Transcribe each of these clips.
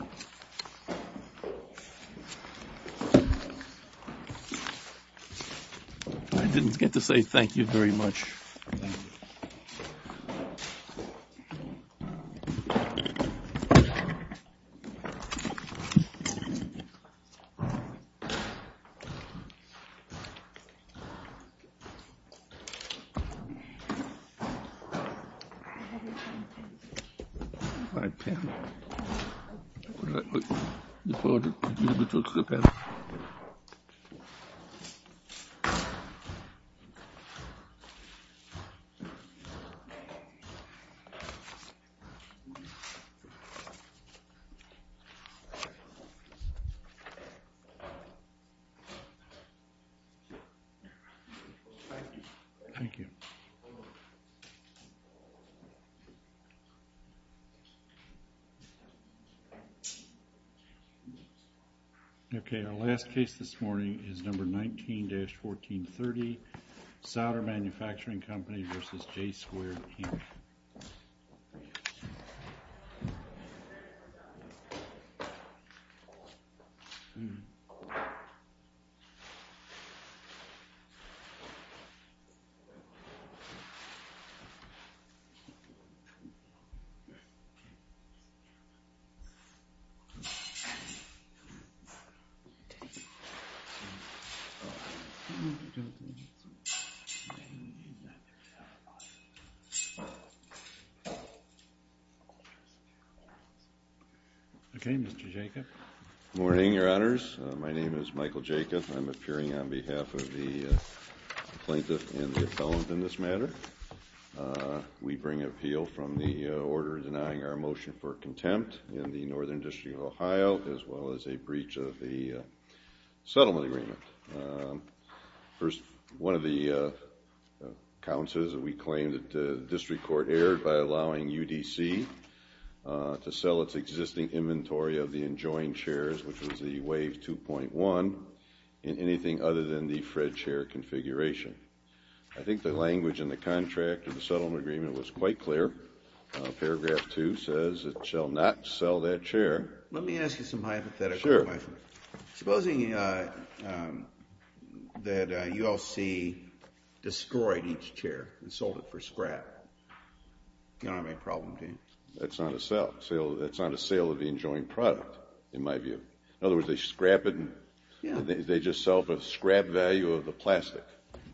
I didn't get to say thank you very much. It's a pleasure. I'm going to take a few minutes to prepare. Thank you. Thank you. Thank you. OK. Our last case this morning is Number 19-1430, Solder Manufacturing Company v. J. Squared, Inc. OK, Mr. Jacob. Good morning, Your Honors. My name is Michael Jacob. I'm appearing on behalf of the plaintiff and the appellant in this matter. We bring appeal from the order denying our motion for contempt in the Northern District of Ohio as well as a breach of the settlement agreement. One of the counts is that we claim that the district court erred by allowing UDC to sell its existing inventory of the enjoined shares, which was the Wave 2.1, in anything other than the Fred share configuration. I think the language in the contract of the settlement agreement was quite clear. Paragraph 2 says it shall not sell that share. Let me ask you some hypothetical questions. Sure. Supposing that ULC destroyed each share and sold it for scrap, you don't have any problem, do you? No. That's not a sale. That's not a sale of the enjoined product, in my view. In other words, they scrap it and they just sell for the scrap value of the plastic.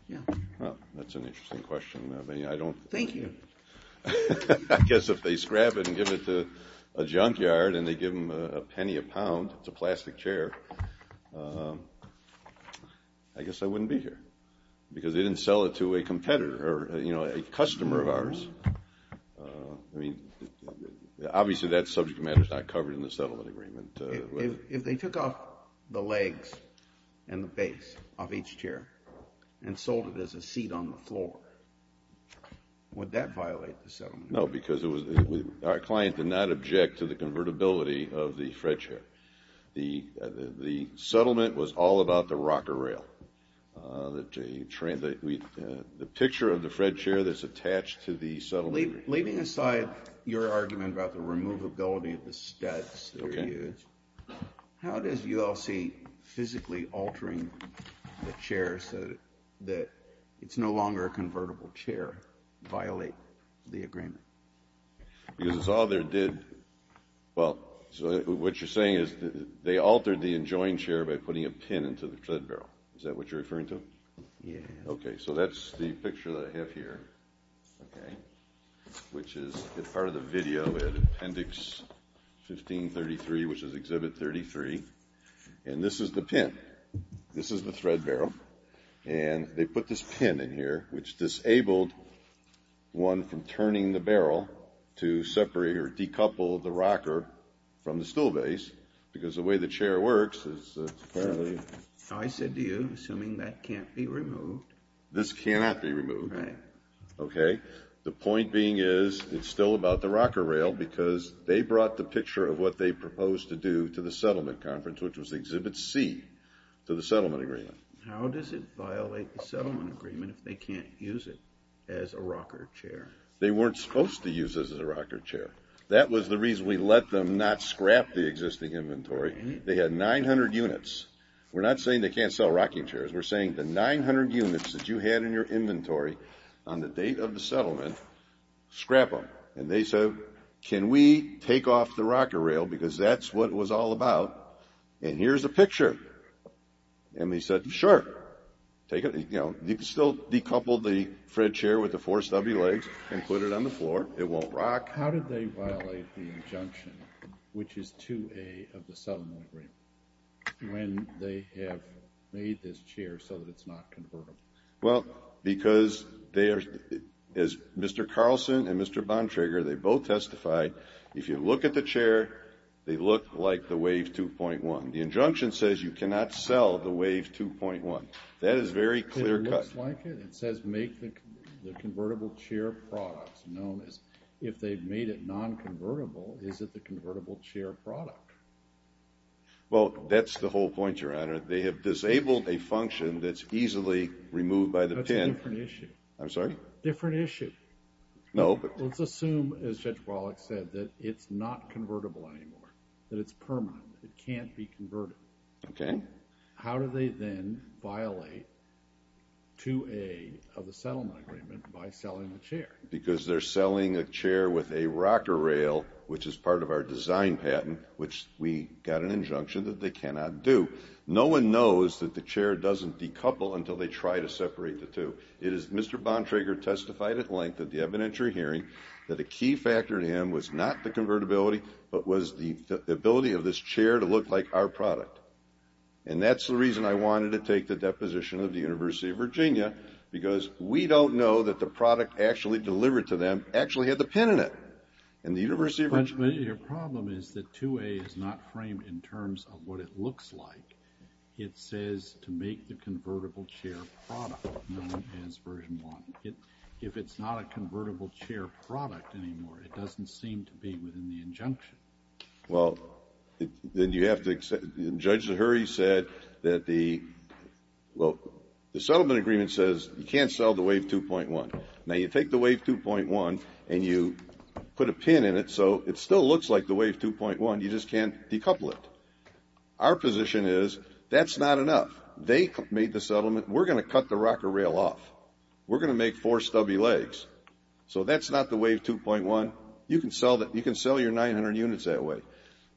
Yeah. Well, that's an interesting question. I mean, I don't... Thank you. I guess if they scrap it and give it to a junkyard and they give them a penny a pound, it's a plastic chair, I guess I wouldn't be here because they didn't sell it to a competitor or, you know, a customer of ours. I mean, obviously that subject matter is not covered in the settlement agreement. If they took off the legs and the base of each chair and sold it as a seat on the floor, would that violate the settlement agreement? No, because our client did not object to the convertibility of the Fred share. The settlement was all about the rocker rail. The picture of the Fred chair that's attached to the settlement agreement. Leaving aside your argument about the removability of the studs that are used, how does ULC physically altering the chair so that it's no longer a convertible chair violate the agreement? Because it's all they did... Well, so what you're saying is they altered the enjoined chair by putting a pin into the tread barrel. Is that what you're referring to? Yeah. Okay, so that's the picture that I have here, okay, which is part of the video at appendix 1533, which is exhibit 33, and this is the pin. This is the thread barrel, and they put this pin in here, which disabled one from turning the barrel to separate or decouple the rocker from the stool base because the way the chair works is apparently... I said to you, assuming that can't be removed... This cannot be removed. Right. Okay, the point being is it's still about the rocker rail because they brought the picture of what they proposed to do to the settlement conference, which was exhibit C to the settlement agreement. How does it violate the settlement agreement if they can't use it as a rocker chair? They weren't supposed to use it as a rocker chair. That was the reason we let them not scrap the existing inventory. They had 900 units. We're not saying they can't sell rocking chairs. We're saying the 900 units that you had in your inventory on the date of the settlement, scrap them. And they said, can we take off the rocker rail because that's what it was all about, and here's a picture. And they said, sure, take it. You can still decouple the Fred chair with the four stubby legs and put it on the floor. It won't rock. How did they violate the injunction, which is 2A of the settlement agreement, when they have made this chair so that it's not convertible? Well, because as Mr. Carlson and Mr. Bontrager, they both testified, if you look at the chair, they look like the Wave 2.1. The injunction says you cannot sell the Wave 2.1. That is very clear cut. It looks like it. It says make the convertible chair products, known as if they've made it non-convertible, is it the convertible chair product? Well, that's the whole point you're at. They have disabled a function that's easily removed by the pin. That's a different issue. I'm sorry? Different issue. No. Let's assume, as Judge Wallach said, that it's not convertible anymore, that it's permanent, that it can't be converted. Okay. How do they then violate 2A of the settlement agreement by selling the chair? Because they're selling a chair with a rocker rail, which is part of our design patent, which we got an injunction that they cannot do. No one knows that the chair doesn't decouple until they try to separate the two. It is, Mr. Bontrager testified at length at the evidentiary hearing, that a key factor in him was not the convertibility, but was the ability of this chair to look like our product. And that's the reason I wanted to take the deposition of the University of Virginia, because we don't know that the product actually delivered to them actually had the pin in it. But your problem is that 2A is not framed in terms of what it looks like. It says to make the convertible chair product, known as version 1. If it's not a convertible chair product anymore, it doesn't seem to be within the injunction. Well, then you have to accept, and Judge LaHurry said that the, well, the settlement agreement says you can't sell the Wave 2.1. Now, you take the Wave 2.1 and you put a pin in it so it still looks like the Wave 2.1, you just can't decouple it. Our position is that's not enough. They made the settlement. We're going to cut the rocker rail off. We're going to make four stubby legs. So that's not the Wave 2.1. You can sell your 900 units that way.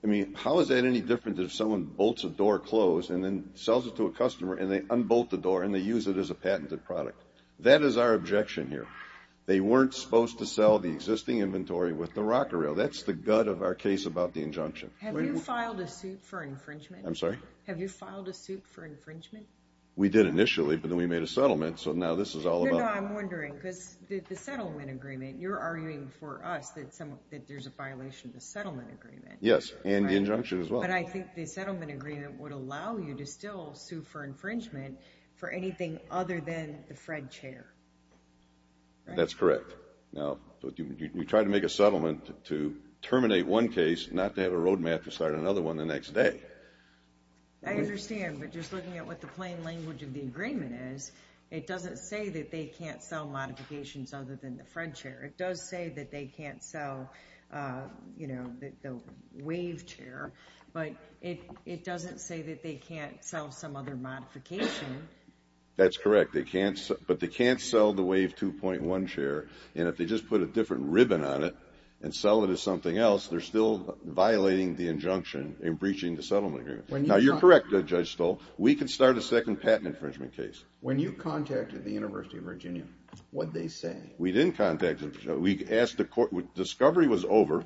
I mean, how is that any different than if someone bolts a door closed and then sells it to a customer and they unbolt the door and they use it as a patented product? That is our objection here. They weren't supposed to sell the existing inventory with the rocker rail. That's the gut of our case about the injunction. Have you filed a suit for infringement? I'm sorry? Have you filed a suit for infringement? We did initially, but then we made a settlement, so now this is all about— No, no, I'm wondering, because the settlement agreement, you're arguing for us that there's a violation of the settlement agreement. Yes, and the injunction as well. But I think the settlement agreement would allow you to still sue for infringement for anything other than the Fred chair. That's correct. Now, you try to make a settlement to terminate one case, not to have a road map to start another one the next day. I understand, but just looking at what the plain language of the agreement is, it doesn't say that they can't sell modifications other than the Fred chair. It does say that they can't sell the Wave chair, but it doesn't say that they can't sell some other modification. That's correct, but they can't sell the Wave 2.1 chair, and if they just put a different ribbon on it and sell it as something else, they're still violating the injunction in breaching the settlement agreement. Now, you're correct, Judge Stoll. We can start a second patent infringement case. When you contacted the University of Virginia, what did they say? We didn't contact them. We asked the court—discovery was over.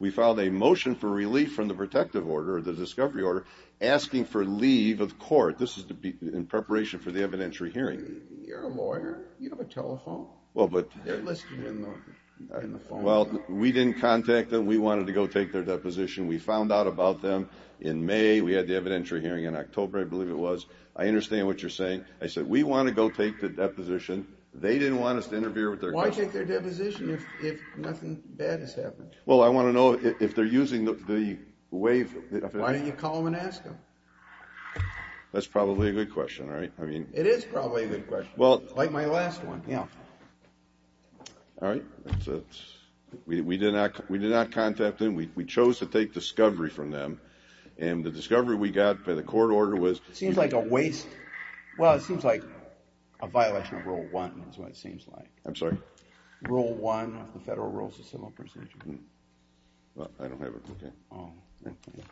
We filed a motion for relief from the protective order, the discovery order, asking for leave of court. This is in preparation for the evidentiary hearing. You have a telephone. They're listed in the phone book. Well, we didn't contact them. We wanted to go take their deposition. We found out about them in May. We had the evidentiary hearing in October, I believe it was. I understand what you're saying. I said we want to go take the deposition. They didn't want us to interfere with their— Why take their deposition if nothing bad has happened? Well, I want to know if they're using the Wave— Why don't you call them and ask them? That's probably a good question, right? It is probably a good question, like my last one. All right. We did not contact them. We chose to take discovery from them. And the discovery we got by the court order was— It seems like a waste—well, it seems like a violation of Rule 1 is what it seems like. I'm sorry? Rule 1 of the Federal Rules of Civil Procedure. Well, I don't have it with me. Oh. I don't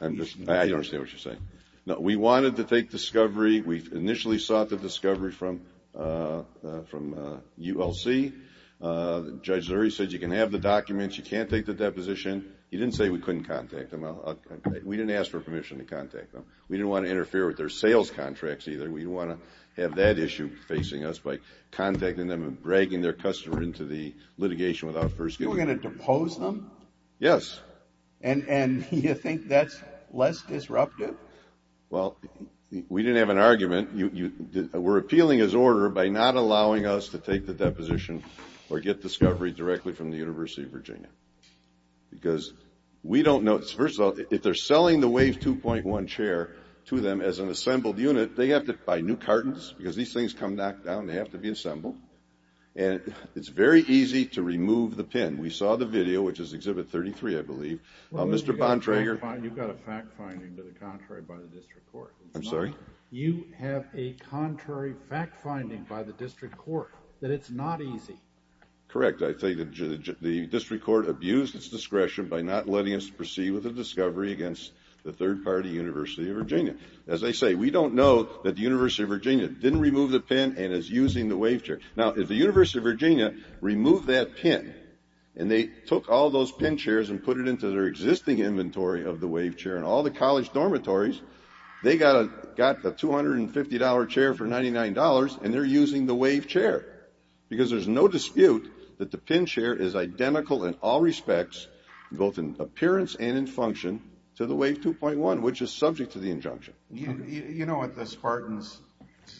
understand what you're saying. No, we wanted to take discovery. We initially sought the discovery from ULC. Judge Lurie said you can have the documents. You can't take the deposition. He didn't say we couldn't contact them. We didn't ask for permission to contact them. We didn't want to interfere with their sales contracts either. We didn't want to have that issue facing us by contacting them and bragging their customer into the litigation without first— You were going to depose them? Yes. And you think that's less disruptive? Well, we didn't have an argument. We're appealing his order by not allowing us to take the deposition or get discovery directly from the University of Virginia because we don't know— First of all, if they're selling the Wave 2.1 chair to them as an assembled unit, they have to buy new cartons because these things come knocked down. They have to be assembled. And it's very easy to remove the pin. We saw the video, which is Exhibit 33, I believe. Mr. Bontrager— You've got a fact-finding to the contrary by the district court. I'm sorry? You have a contrary fact-finding by the district court that it's not easy. Correct. I think the district court abused its discretion by not letting us proceed with the discovery against the third-party University of Virginia. As I say, we don't know that the University of Virginia didn't remove the pin and is using the Wave chair. Now, if the University of Virginia removed that pin and they took all those pin chairs and put it into their existing inventory of the Wave chair and all the college dormitories, they got a $250 chair for $99, and they're using the Wave chair because there's no dispute that the pin chair is identical in all respects, both in appearance and in function, to the Wave 2.1, which is subject to the injunction. You know what the Spartans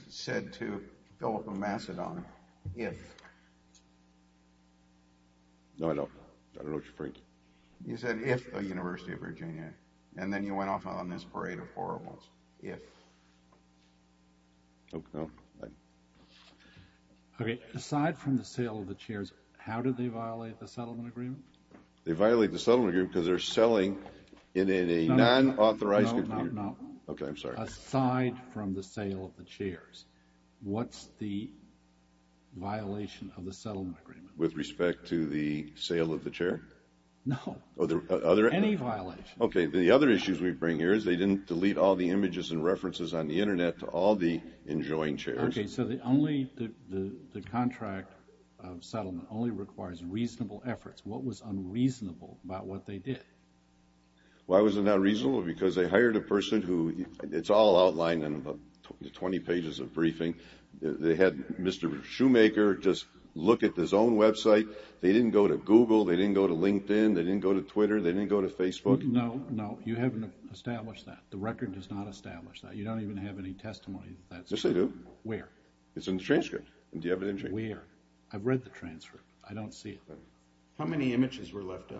said to Philip of Macedon? If. No, I don't. I don't know what you're thinking. You said if the University of Virginia, and then you went off on this parade of horribles. If. Oh, no. Okay, aside from the sale of the chairs, how do they violate the settlement agreement? They violate the settlement agreement because they're selling in a non-authorized computer. No, no, no. Okay, I'm sorry. Aside from the sale of the chairs, what's the violation of the settlement agreement? With respect to the sale of the chair? No, any violation. Okay, the other issues we bring here is they didn't delete all the images and references on the Internet to all the enjoying chairs. Okay, so the contract of settlement only requires reasonable efforts. What was unreasonable about what they did? Why was it not reasonable? Because they hired a person who it's all outlined in the 20 pages of briefing. They had Mr. Shoemaker just look at his own website. They didn't go to Google. They didn't go to LinkedIn. They didn't go to Twitter. They didn't go to Facebook. No, no, you haven't established that. The record does not establish that. You don't even have any testimony that that's true. Yes, I do. Where? It's in the transcript. Do you have it in the transcript? Where? I've read the transcript. I don't see it. How many images were left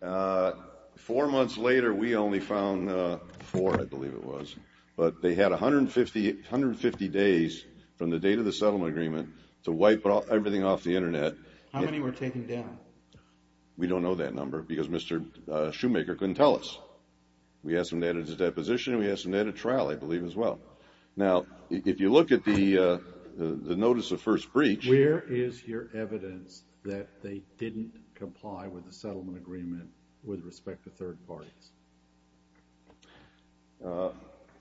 up? Four months later, we only found four, I believe it was. But they had 150 days from the date of the settlement agreement to wipe everything off the Internet. How many were taken down? We don't know that number because Mr. Shoemaker couldn't tell us. We asked him to edit his deposition. We asked him to edit trial, I believe, as well. Now, if you look at the notice of first breach. Where is your evidence that they didn't comply with the settlement agreement with respect to third parties?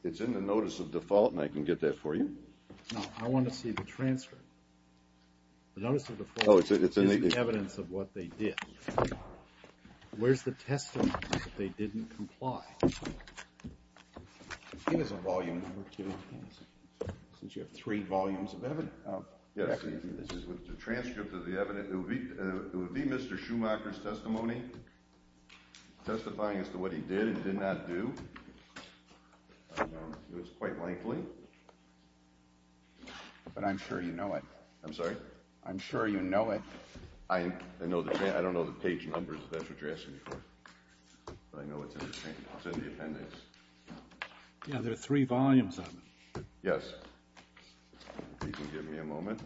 It's in the notice of default, and I can get that for you. No, I want to see the transcript. The notice of default is the evidence of what they did. Where's the testimony that they didn't comply? It is in volume number two. Since you have three volumes of evidence. Yes, this is the transcript of the evidence. It would be Mr. Shoemaker's testimony testifying as to what he did and did not do. It was quite lengthy. But I'm sure you know it. I'm sorry? I'm sure you know it. I don't know the page numbers if that's what you're asking me for. I know it's in the appendix. Yeah, there are three volumes of it. Yes. If you can give me a moment.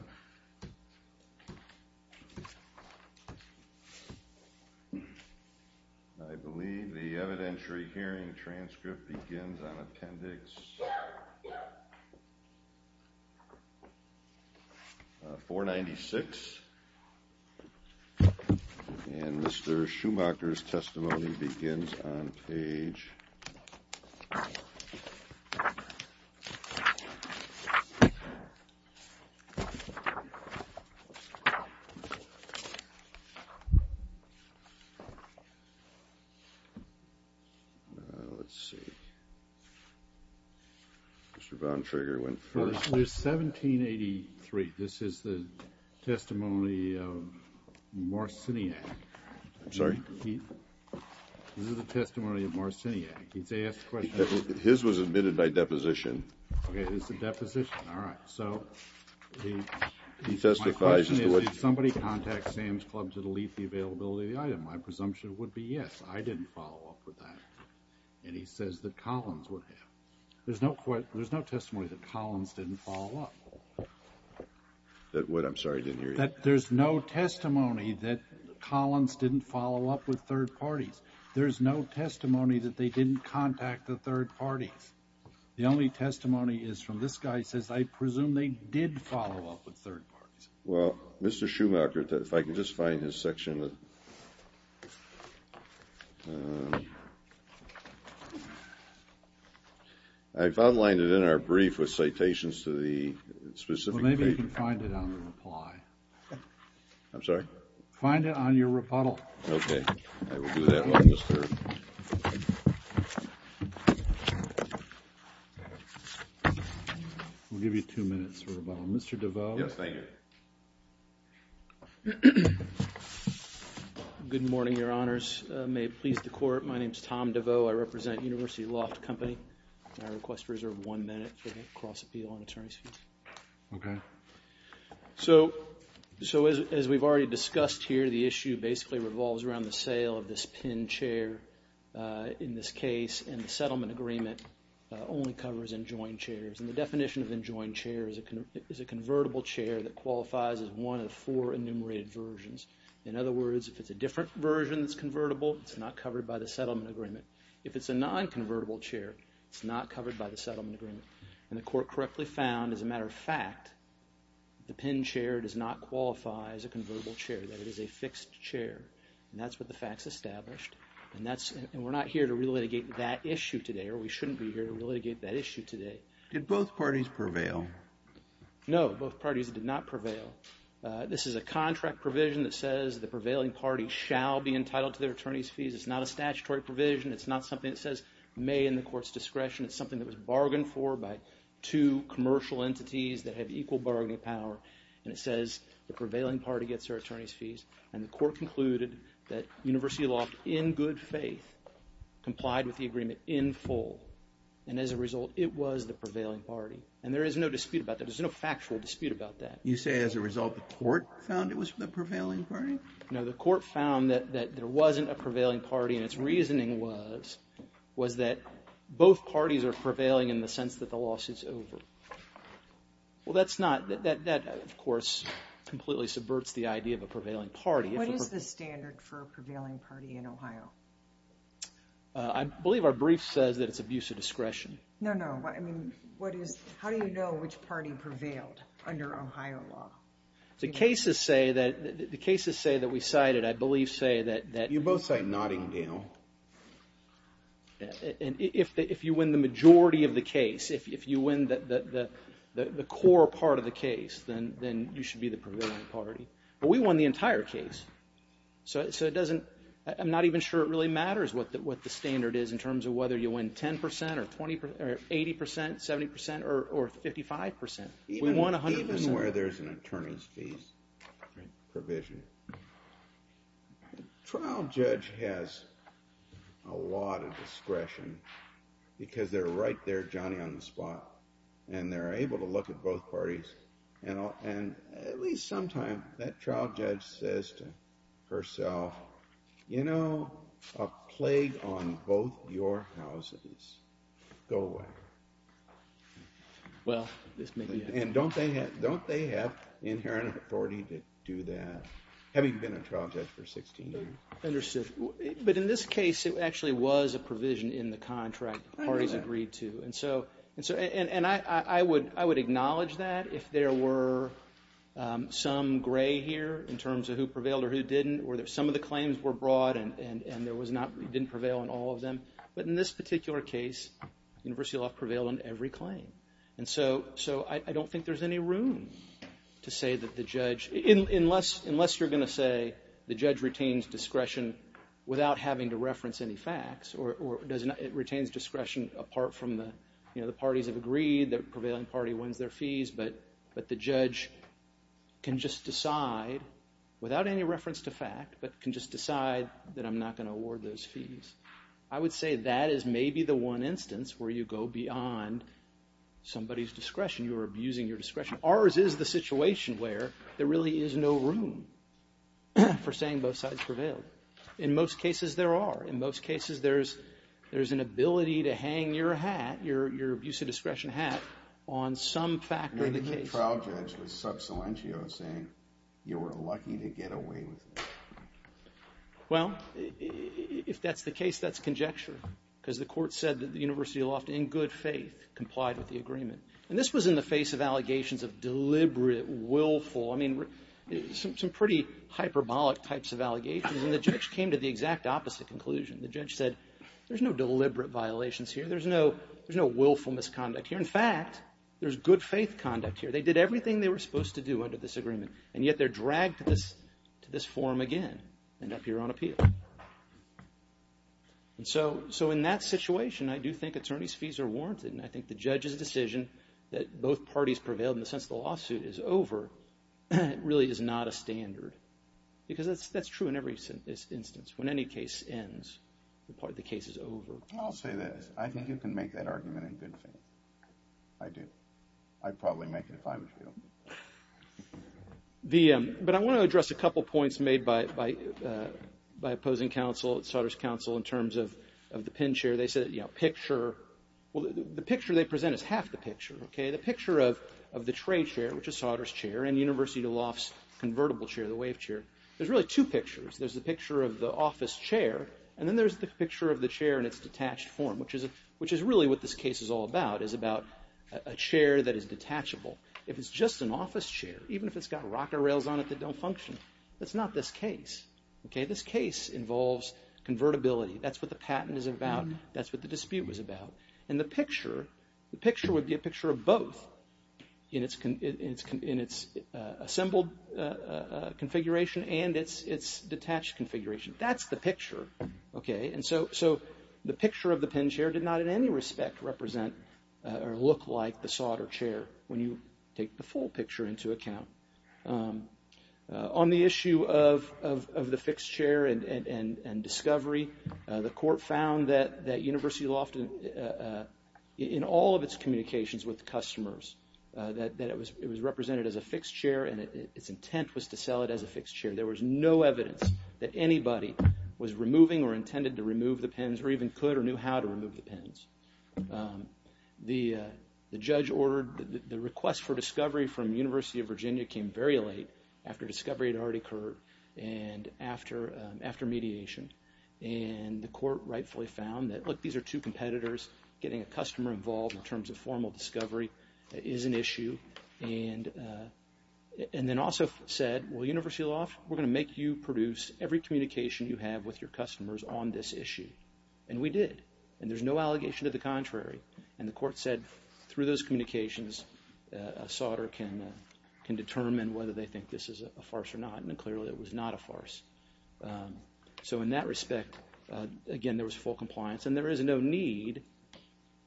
I believe the evidentiary hearing transcript begins on appendix 496. And Mr. Shoemaker's testimony begins on page. Let's see. Mr. Bontrager went first. There's 1783. This is the testimony of Marciniak. I'm sorry? This is the testimony of Marciniak. He's asked a question. His was admitted by deposition. Okay, it's a deposition. All right. So he testifies as to what he did. My question is, did somebody contact Sam's Club to delete the availability of the item? My presumption would be yes. I didn't follow up with that. And he says that Collins would have. There's no testimony that Collins didn't follow up. What? I'm sorry, I didn't hear you. There's no testimony that Collins didn't follow up with third parties. There's no testimony that they didn't contact the third parties. The only testimony is from this guy. He says, I presume they did follow up with third parties. Well, Mr. Schumacher, if I could just find his section. I've outlined it in our brief with citations to the specific paper. Well, maybe you can find it on the reply. I'm sorry? Find it on your rebuttal. Okay. I will do that while Mr. We'll give you two minutes for rebuttal. Mr. DeVos. Yes, thank you. Good morning, your honors. May it please the court. My name is Tom DeVos. I represent University Loft Company. I request reserve one minute for the cross-appeal on attorney's fees. Okay. So, as we've already discussed here, the issue basically revolves around the sale of this pin chair in this case. And the settlement agreement only covers enjoined chairs. And the definition of enjoined chair is a convertible chair that qualifies as one of four enumerated versions. In other words, if it's a different version that's convertible, it's not covered by the settlement agreement. If it's a non-convertible chair, it's not covered by the settlement agreement. And the court correctly found, as a matter of fact, the pin chair does not qualify as a convertible chair. That it is a fixed chair. And that's what the facts established. And we're not here to relitigate that issue today, or we shouldn't be here to relitigate that issue today. Did both parties prevail? No, both parties did not prevail. This is a contract provision that says the prevailing party shall be entitled to their attorney's fees. It's not a statutory provision. It's not something that says may in the court's discretion. It's something that was bargained for by two commercial entities that have equal bargaining power. And it says the prevailing party gets their attorney's fees. And the court concluded that University Loft, in good faith, complied with the agreement in full. And as a result, it was the prevailing party. And there is no dispute about that. There's no factual dispute about that. You say as a result the court found it was the prevailing party? No, the court found that there wasn't a prevailing party. And its reasoning was that both parties are prevailing in the sense that the loss is over. Well, that's not, that of course completely subverts the idea of a prevailing party. What is the standard for a prevailing party in Ohio? I believe our brief says that it's abuse of discretion. No, no. I mean, what is, how do you know which party prevailed under Ohio law? The cases say that, the cases say that we cited, I believe say that. You both say Nottingdale. And if you win the majority of the case, if you win the core part of the case, then you should be the prevailing party. But we won the entire case. So it doesn't, I'm not even sure it really matters what the standard is in terms of whether you win 10 percent or 80 percent, 70 percent, or 55 percent. We won 100 percent. Even where there's an attorney's fees provision, trial judge has a lot of discretion because they're right there Johnny on the spot. And they're able to look at both parties. And at least sometimes that trial judge says to herself, you know, a plague on both your houses. Go away. Well, this may be it. And don't they have inherent authority to do that, having been a trial judge for 16 years? Understood. But in this case, it actually was a provision in the contract that the parties agreed to. And I would acknowledge that if there were some gray here in terms of who prevailed or who didn't, or some of the claims were broad and there was not, didn't prevail on all of them. But in this particular case, University Law prevailed on every claim. And so I don't think there's any room to say that the judge, unless you're going to say the judge retains discretion without having to reference any facts, or it retains discretion apart from the parties have agreed, the prevailing party wins their fees, but the judge can just decide without any reference to fact, but can just decide that I'm not going to award those fees. I would say that is maybe the one instance where you go beyond somebody's discretion. You're abusing your discretion. Ours is the situation where there really is no room for saying both sides prevailed. In most cases, there are. In most cases, there's an ability to hang your hat, your abuse of discretion hat, on some factor of the case. I mean, the trial judge was sub salientio saying you were lucky to get away with it. Well, if that's the case, that's conjecture. Because the court said that the University Law, in good faith, complied with the agreement. And this was in the face of allegations of deliberate willful, I mean, some pretty hyperbolic types of allegations. And the judge came to the exact opposite conclusion. The judge said, there's no deliberate violations here. There's no willful misconduct here. In fact, there's good faith conduct here. They did everything they were supposed to do under this agreement, and yet they're dragged to this forum again and up here on appeal. And so in that situation, I do think attorneys' fees are warranted, and I think the judge's decision that both parties prevailed in the sense the lawsuit is over really is not a standard. Because that's true in every instance. When any case ends, the case is over. I'll say this. I think you can make that argument in good faith. I do. I'd probably make it if I was you. But I want to address a couple points made by opposing counsel, Sauter's counsel, in terms of the pin chair. They said, you know, picture. Well, the picture they present is half the picture, okay? The picture of the tray chair, which is Sauter's chair, and University Law's convertible chair, the wave chair. There's really two pictures. There's the picture of the office chair, and then there's the picture of the chair in its detached form, which is really what this case is all about, is about a chair that is detachable. If it's just an office chair, even if it's got rocker rails on it that don't function, that's not this case, okay? This case involves convertibility. That's what the patent is about. That's what the dispute was about. And the picture, the picture would be a picture of both in its assembled configuration and its detached configuration. That's the picture, okay? And so the picture of the pin chair did not in any respect represent or look like the Sauter chair, when you take the full picture into account. On the issue of the fixed chair and discovery, the court found that University Law, in all of its communications with customers, that it was represented as a fixed chair and its intent was to sell it as a fixed chair. There was no evidence that anybody was removing or intended to remove the pins or even could or knew how to remove the pins. The judge ordered the request for discovery from the University of Virginia came very late, after discovery had already occurred and after mediation. And the court rightfully found that, look, these are two competitors. Getting a customer involved in terms of formal discovery is an issue. And then also said, well, University Law, we're going to make you produce every communication you have with your customers on this issue. And we did. And there's no allegation to the contrary. And the court said through those communications, Sauter can determine whether they think this is a farce or not. And clearly it was not a farce. So in that respect, again, there was full compliance. And there is no need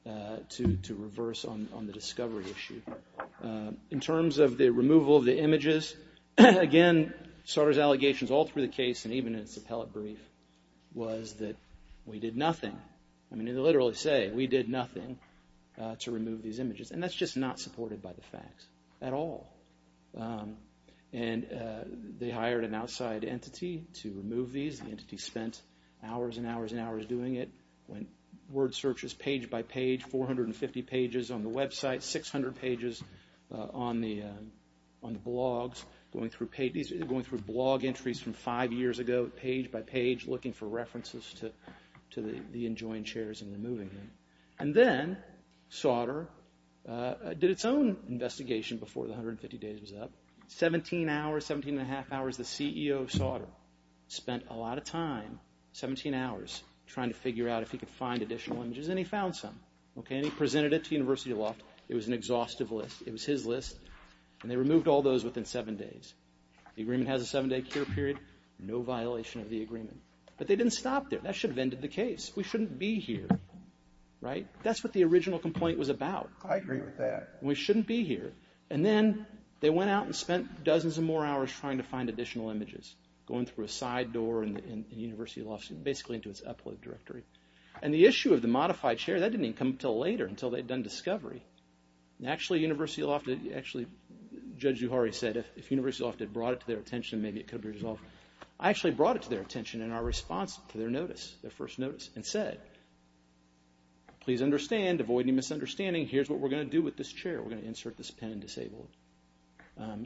to reverse on the discovery issue. In terms of the removal of the images, again, Sauter's allegations all through the case and even in its appellate brief was that we did nothing. I mean, they literally say we did nothing to remove these images. And that's just not supported by the facts at all. And they hired an outside entity to remove these. The entity spent hours and hours and hours doing it, went word searches page by page, 450 pages on the website, 600 pages on the blogs, going through blog entries from five years ago, page by page, looking for references to the enjoined shares and removing them. And then Sauter did its own investigation before the 150 days was up. 17 hours, 17 and a half hours, the CEO of Sauter spent a lot of time, 17 hours, trying to figure out if he could find additional images. And he found some. And he presented it to University Law. It was an exhaustive list. It was his list. And they removed all those within seven days. The agreement has a seven-day cure period, no violation of the agreement. But they didn't stop there. That should have ended the case. We shouldn't be here, right? That's what the original complaint was about. I agree with that. We shouldn't be here. And then they went out and spent dozens of more hours trying to find additional images, going through a side door in University Law, basically into its upload directory. And the issue of the modified share, that didn't even come until later, until they'd done discovery. And actually, University Law, actually, Judge Zuhari said, if University Law had brought it to their attention, maybe it could have been resolved. I actually brought it to their attention in our response to their notice, their first notice, and said, please understand, avoid any misunderstanding, here's what we're going to do with this share. We're going to insert this pin and disable it.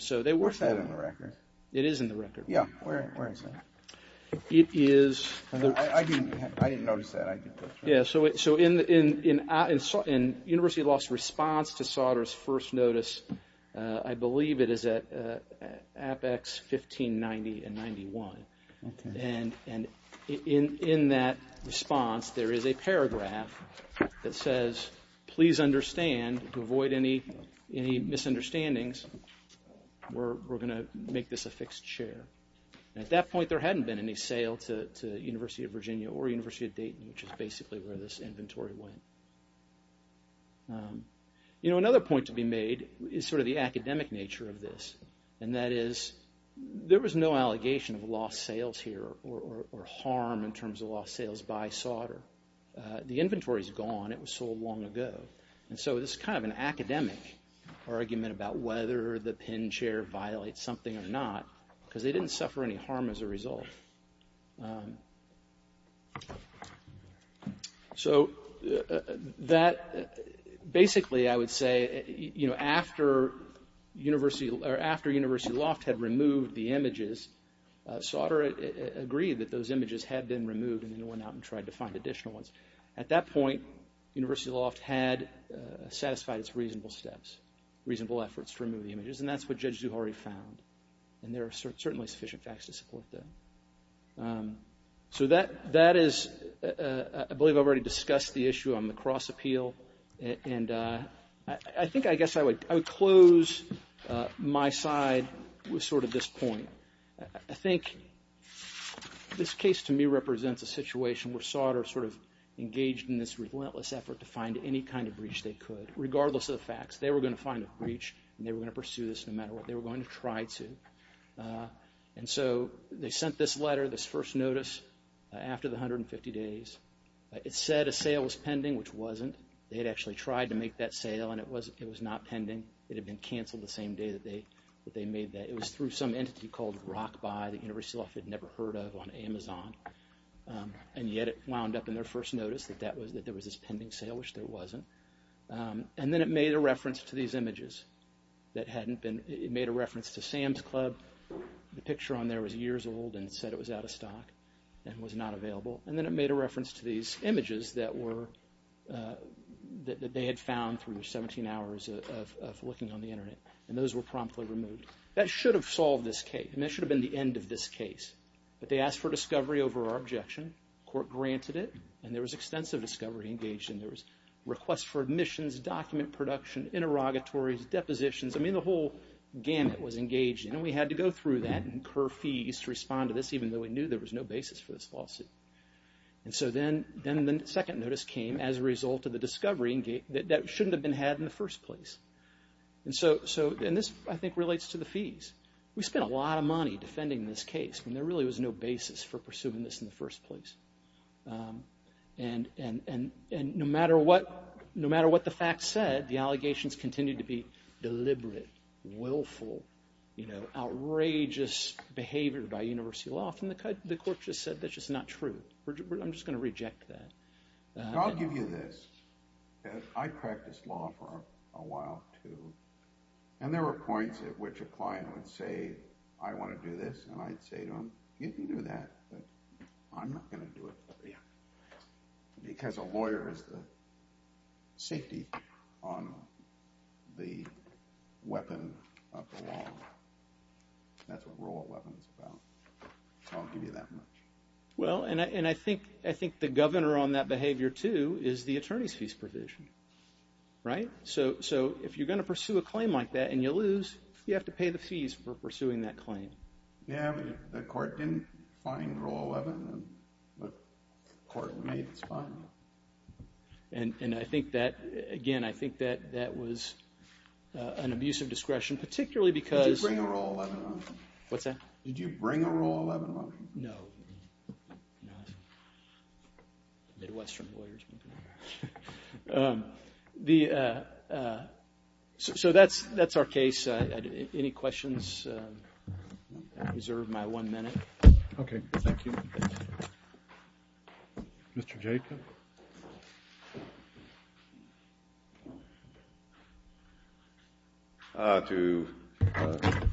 So they worked on it. What's that in the record? It is in the record. Yeah. Where is it? It is. I didn't notice that. Yeah, so in University Law's response to Sauder's first notice, I believe it is at Apex 1590 and 91. And in that response, there is a paragraph that says, please understand, avoid any misunderstandings, we're going to make this a fixed share. At that point, there hadn't been any sale to the University of Virginia or University of Dayton, which is basically where this inventory went. You know, another point to be made is sort of the academic nature of this, and that is there was no allegation of lost sales here or harm in terms of lost sales by Sauder. The inventory is gone. It was sold long ago. And so this is kind of an academic argument about whether the pin share violates something or not, because they didn't suffer any harm as a result. So that basically, I would say, you know, after University Loft had removed the images, Sauder agreed that those images had been removed and then went out and tried to find additional ones. At that point, University Loft had satisfied its reasonable steps, reasonable efforts to remove the images, and that's what Judge Zuhauri found. And there are certainly sufficient facts to support that. So that is, I believe I've already discussed the issue on the cross-appeal, and I think I guess I would close my side with sort of this point. I think this case to me represents a situation where Sauder sort of engaged in this relentless effort to find any kind of breach they could, regardless of the facts. They were going to find a breach, and they were going to pursue this no matter what. They were going to try to. And so they sent this letter, this first notice, after the 150 days. It said a sale was pending, which wasn't. They had actually tried to make that sale, and it was not pending. It had been canceled the same day that they made that. It was through some entity called Rock Buy that University Loft had never heard of on Amazon, and yet it wound up in their first notice that there was this pending sale, which there wasn't. And then it made a reference to these images that hadn't been, it made a reference to Sam's Club. The picture on there was years old and said it was out of stock and was not available. And then it made a reference to these images that were, that they had found through 17 hours of looking on the Internet, and those were promptly removed. That should have solved this case, and that should have been the end of this case. But they asked for discovery over our objection. The court granted it, and there was extensive discovery engaged in. There was requests for admissions, document production, interrogatories, depositions. I mean, the whole gamut was engaged in, and we had to go through that and incur fees to respond to this, even though we knew there was no basis for this lawsuit. And so then the second notice came as a result of the discovery that shouldn't have been had in the first place. And this, I think, relates to the fees. We spent a lot of money defending this case, and there really was no basis for pursuing this in the first place. And no matter what the facts said, the allegations continued to be deliberate, willful, outrageous behavior by University Law. And the court just said, that's just not true. I'm just going to reject that. I'll give you this. I practiced law for a while, too, and there were points at which a client would say, I want to do this, and I'd say to him, you can do that, but I'm not going to do it because a lawyer is the safety on the weapon of the law. That's what rule of law is about. So I'll give you that much. Well, and I think the governor on that behavior, too, is the attorney's fees provision. Right? So if you're going to pursue a claim like that and you lose, you have to pay the fees for pursuing that claim. Yeah, the court didn't find Rule 11, but the court made its final. And I think that, again, I think that that was an abuse of discretion, particularly because— Did you bring a Rule 11 up? What's that? Did you bring a Rule 11 up? No. Midwestern lawyers. So that's our case. Any questions? I reserve my one minute. Okay. Thank you. Mr. Jacob? To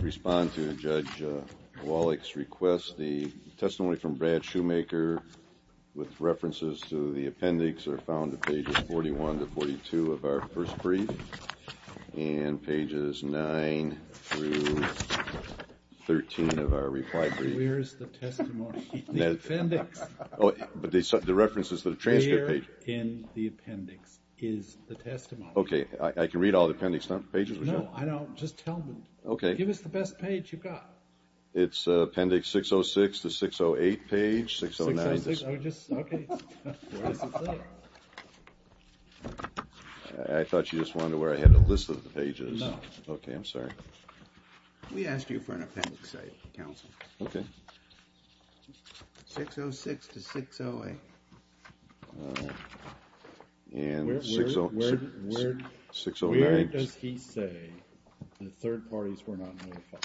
respond to Judge Wallach's request, the testimony from Brad Shoemaker with references to the appendix are found on pages 41 to 42 of our first brief, and pages 9 through 13 of our reply brief. Where is the testimony? The appendix. But the reference is to the transcript page. Where in the appendix is the testimony? Okay, I can read all the appendix pages? No, I don't. Just tell me. Okay. Give us the best page you've got. It's appendix 606 to 608 page. 609. 606? Okay. Where does it say? I thought you just wanted to where I had a list of the pages. No. Okay, I'm sorry. We asked you for an appendix, Counsel. Okay. 606 to 608. And 609. Where does he say the third parties were not notified?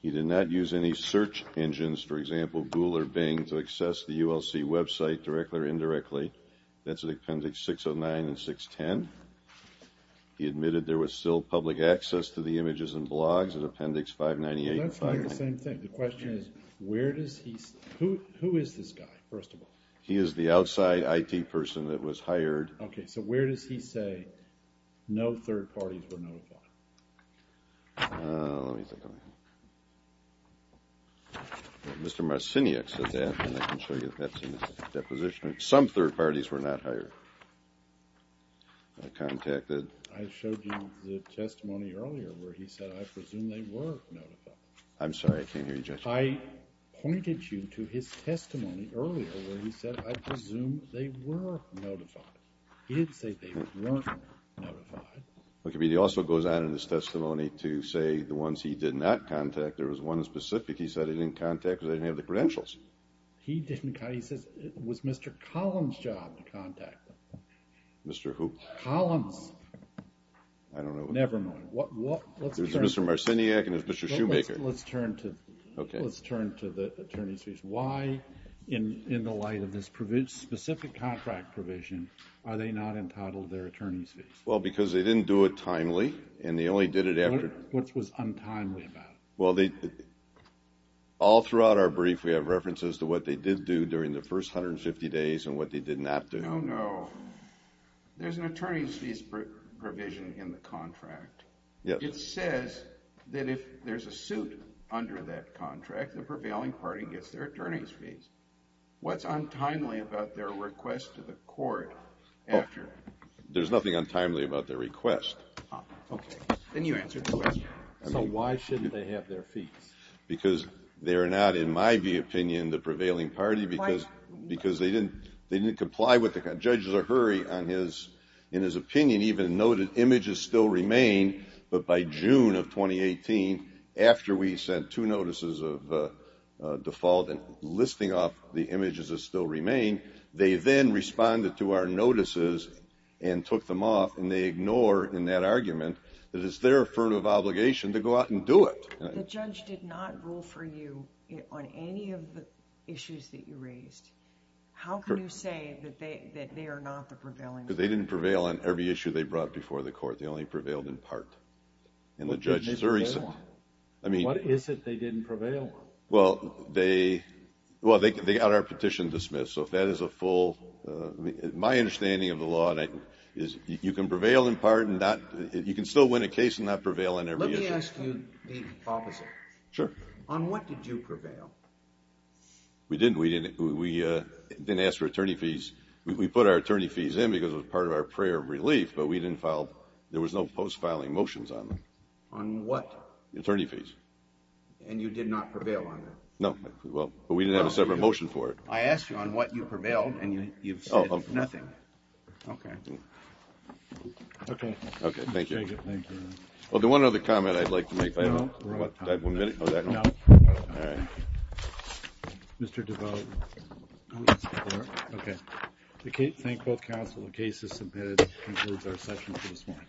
He did not use any search engines, for example, Google or Bing, to access the ULC website directly or indirectly. That's at appendix 609 and 610. He admitted there was still public access to the images and blogs at appendix 598. That's not the same thing. The question is, where does he say? Who is this guy, first of all? He is the outside IT person that was hired. Okay, so where does he say no third parties were notified? Let me think. Mr. Marciniak said that, and I can show you that's in his deposition. Some third parties were not hired or contacted. I showed you the testimony earlier where he said I presume they were notified. I'm sorry. I can't hear you, Judge. I pointed you to his testimony earlier where he said I presume they were notified. He didn't say they weren't notified. He also goes on in his testimony to say the ones he did not contact, there was one specific he said he didn't contact because they didn't have the credentials. He says it was Mr. Collins' job to contact them. Mr. Who? Collins. I don't know. Never mind. It was Mr. Marciniak and it was Mr. Shoemaker. Let's turn to the attorney's fees. Why in the light of this specific contract provision are they not entitled to their attorney's fees? Well, because they didn't do it timely and they only did it after. What was untimely about it? Well, all throughout our brief we have references to what they did do during the first 150 days and what they did not do. No, no. There's an attorney's fees provision in the contract. Yes. It says that if there's a suit under that contract, the prevailing party gets their attorney's fees. What's untimely about their request to the court after? There's nothing untimely about their request. Okay. Then you answer the question. So why shouldn't they have their fees? Because they are not, in my opinion, the prevailing party because they didn't comply with it. The judge is in a hurry. In his opinion, he even noted images still remain. But by June of 2018, after we sent two notices of default and listing off the images that still remain, they then responded to our notices and took them off. And they ignore in that argument that it's their affirmative obligation to go out and do it. The judge did not rule for you on any of the issues that you raised. How can you say that they are not the prevailing party? Because they didn't prevail on every issue they brought before the court. They only prevailed in part. And the judge is recent. What is it they didn't prevail on? Well, they got our petition dismissed. So if that is a full – my understanding of the law is you can prevail in part and not – you can still win a case and not prevail on every issue. Let me ask you the opposite. Sure. On what did you prevail? We didn't. We didn't ask for attorney fees. We put our attorney fees in because it was part of our prayer of relief, but we didn't file – there was no post-filing motions on them. On what? Attorney fees. And you did not prevail on them? No. But we didn't have a separate motion for it. I asked you on what you prevailed, and you've said nothing. Okay. Okay. Okay. Thank you. Well, there's one other comment I'd like to make. No? No. All right. Mr. DeVos. Okay. Thank both counsel. The case is submitted. That concludes our session for this morning.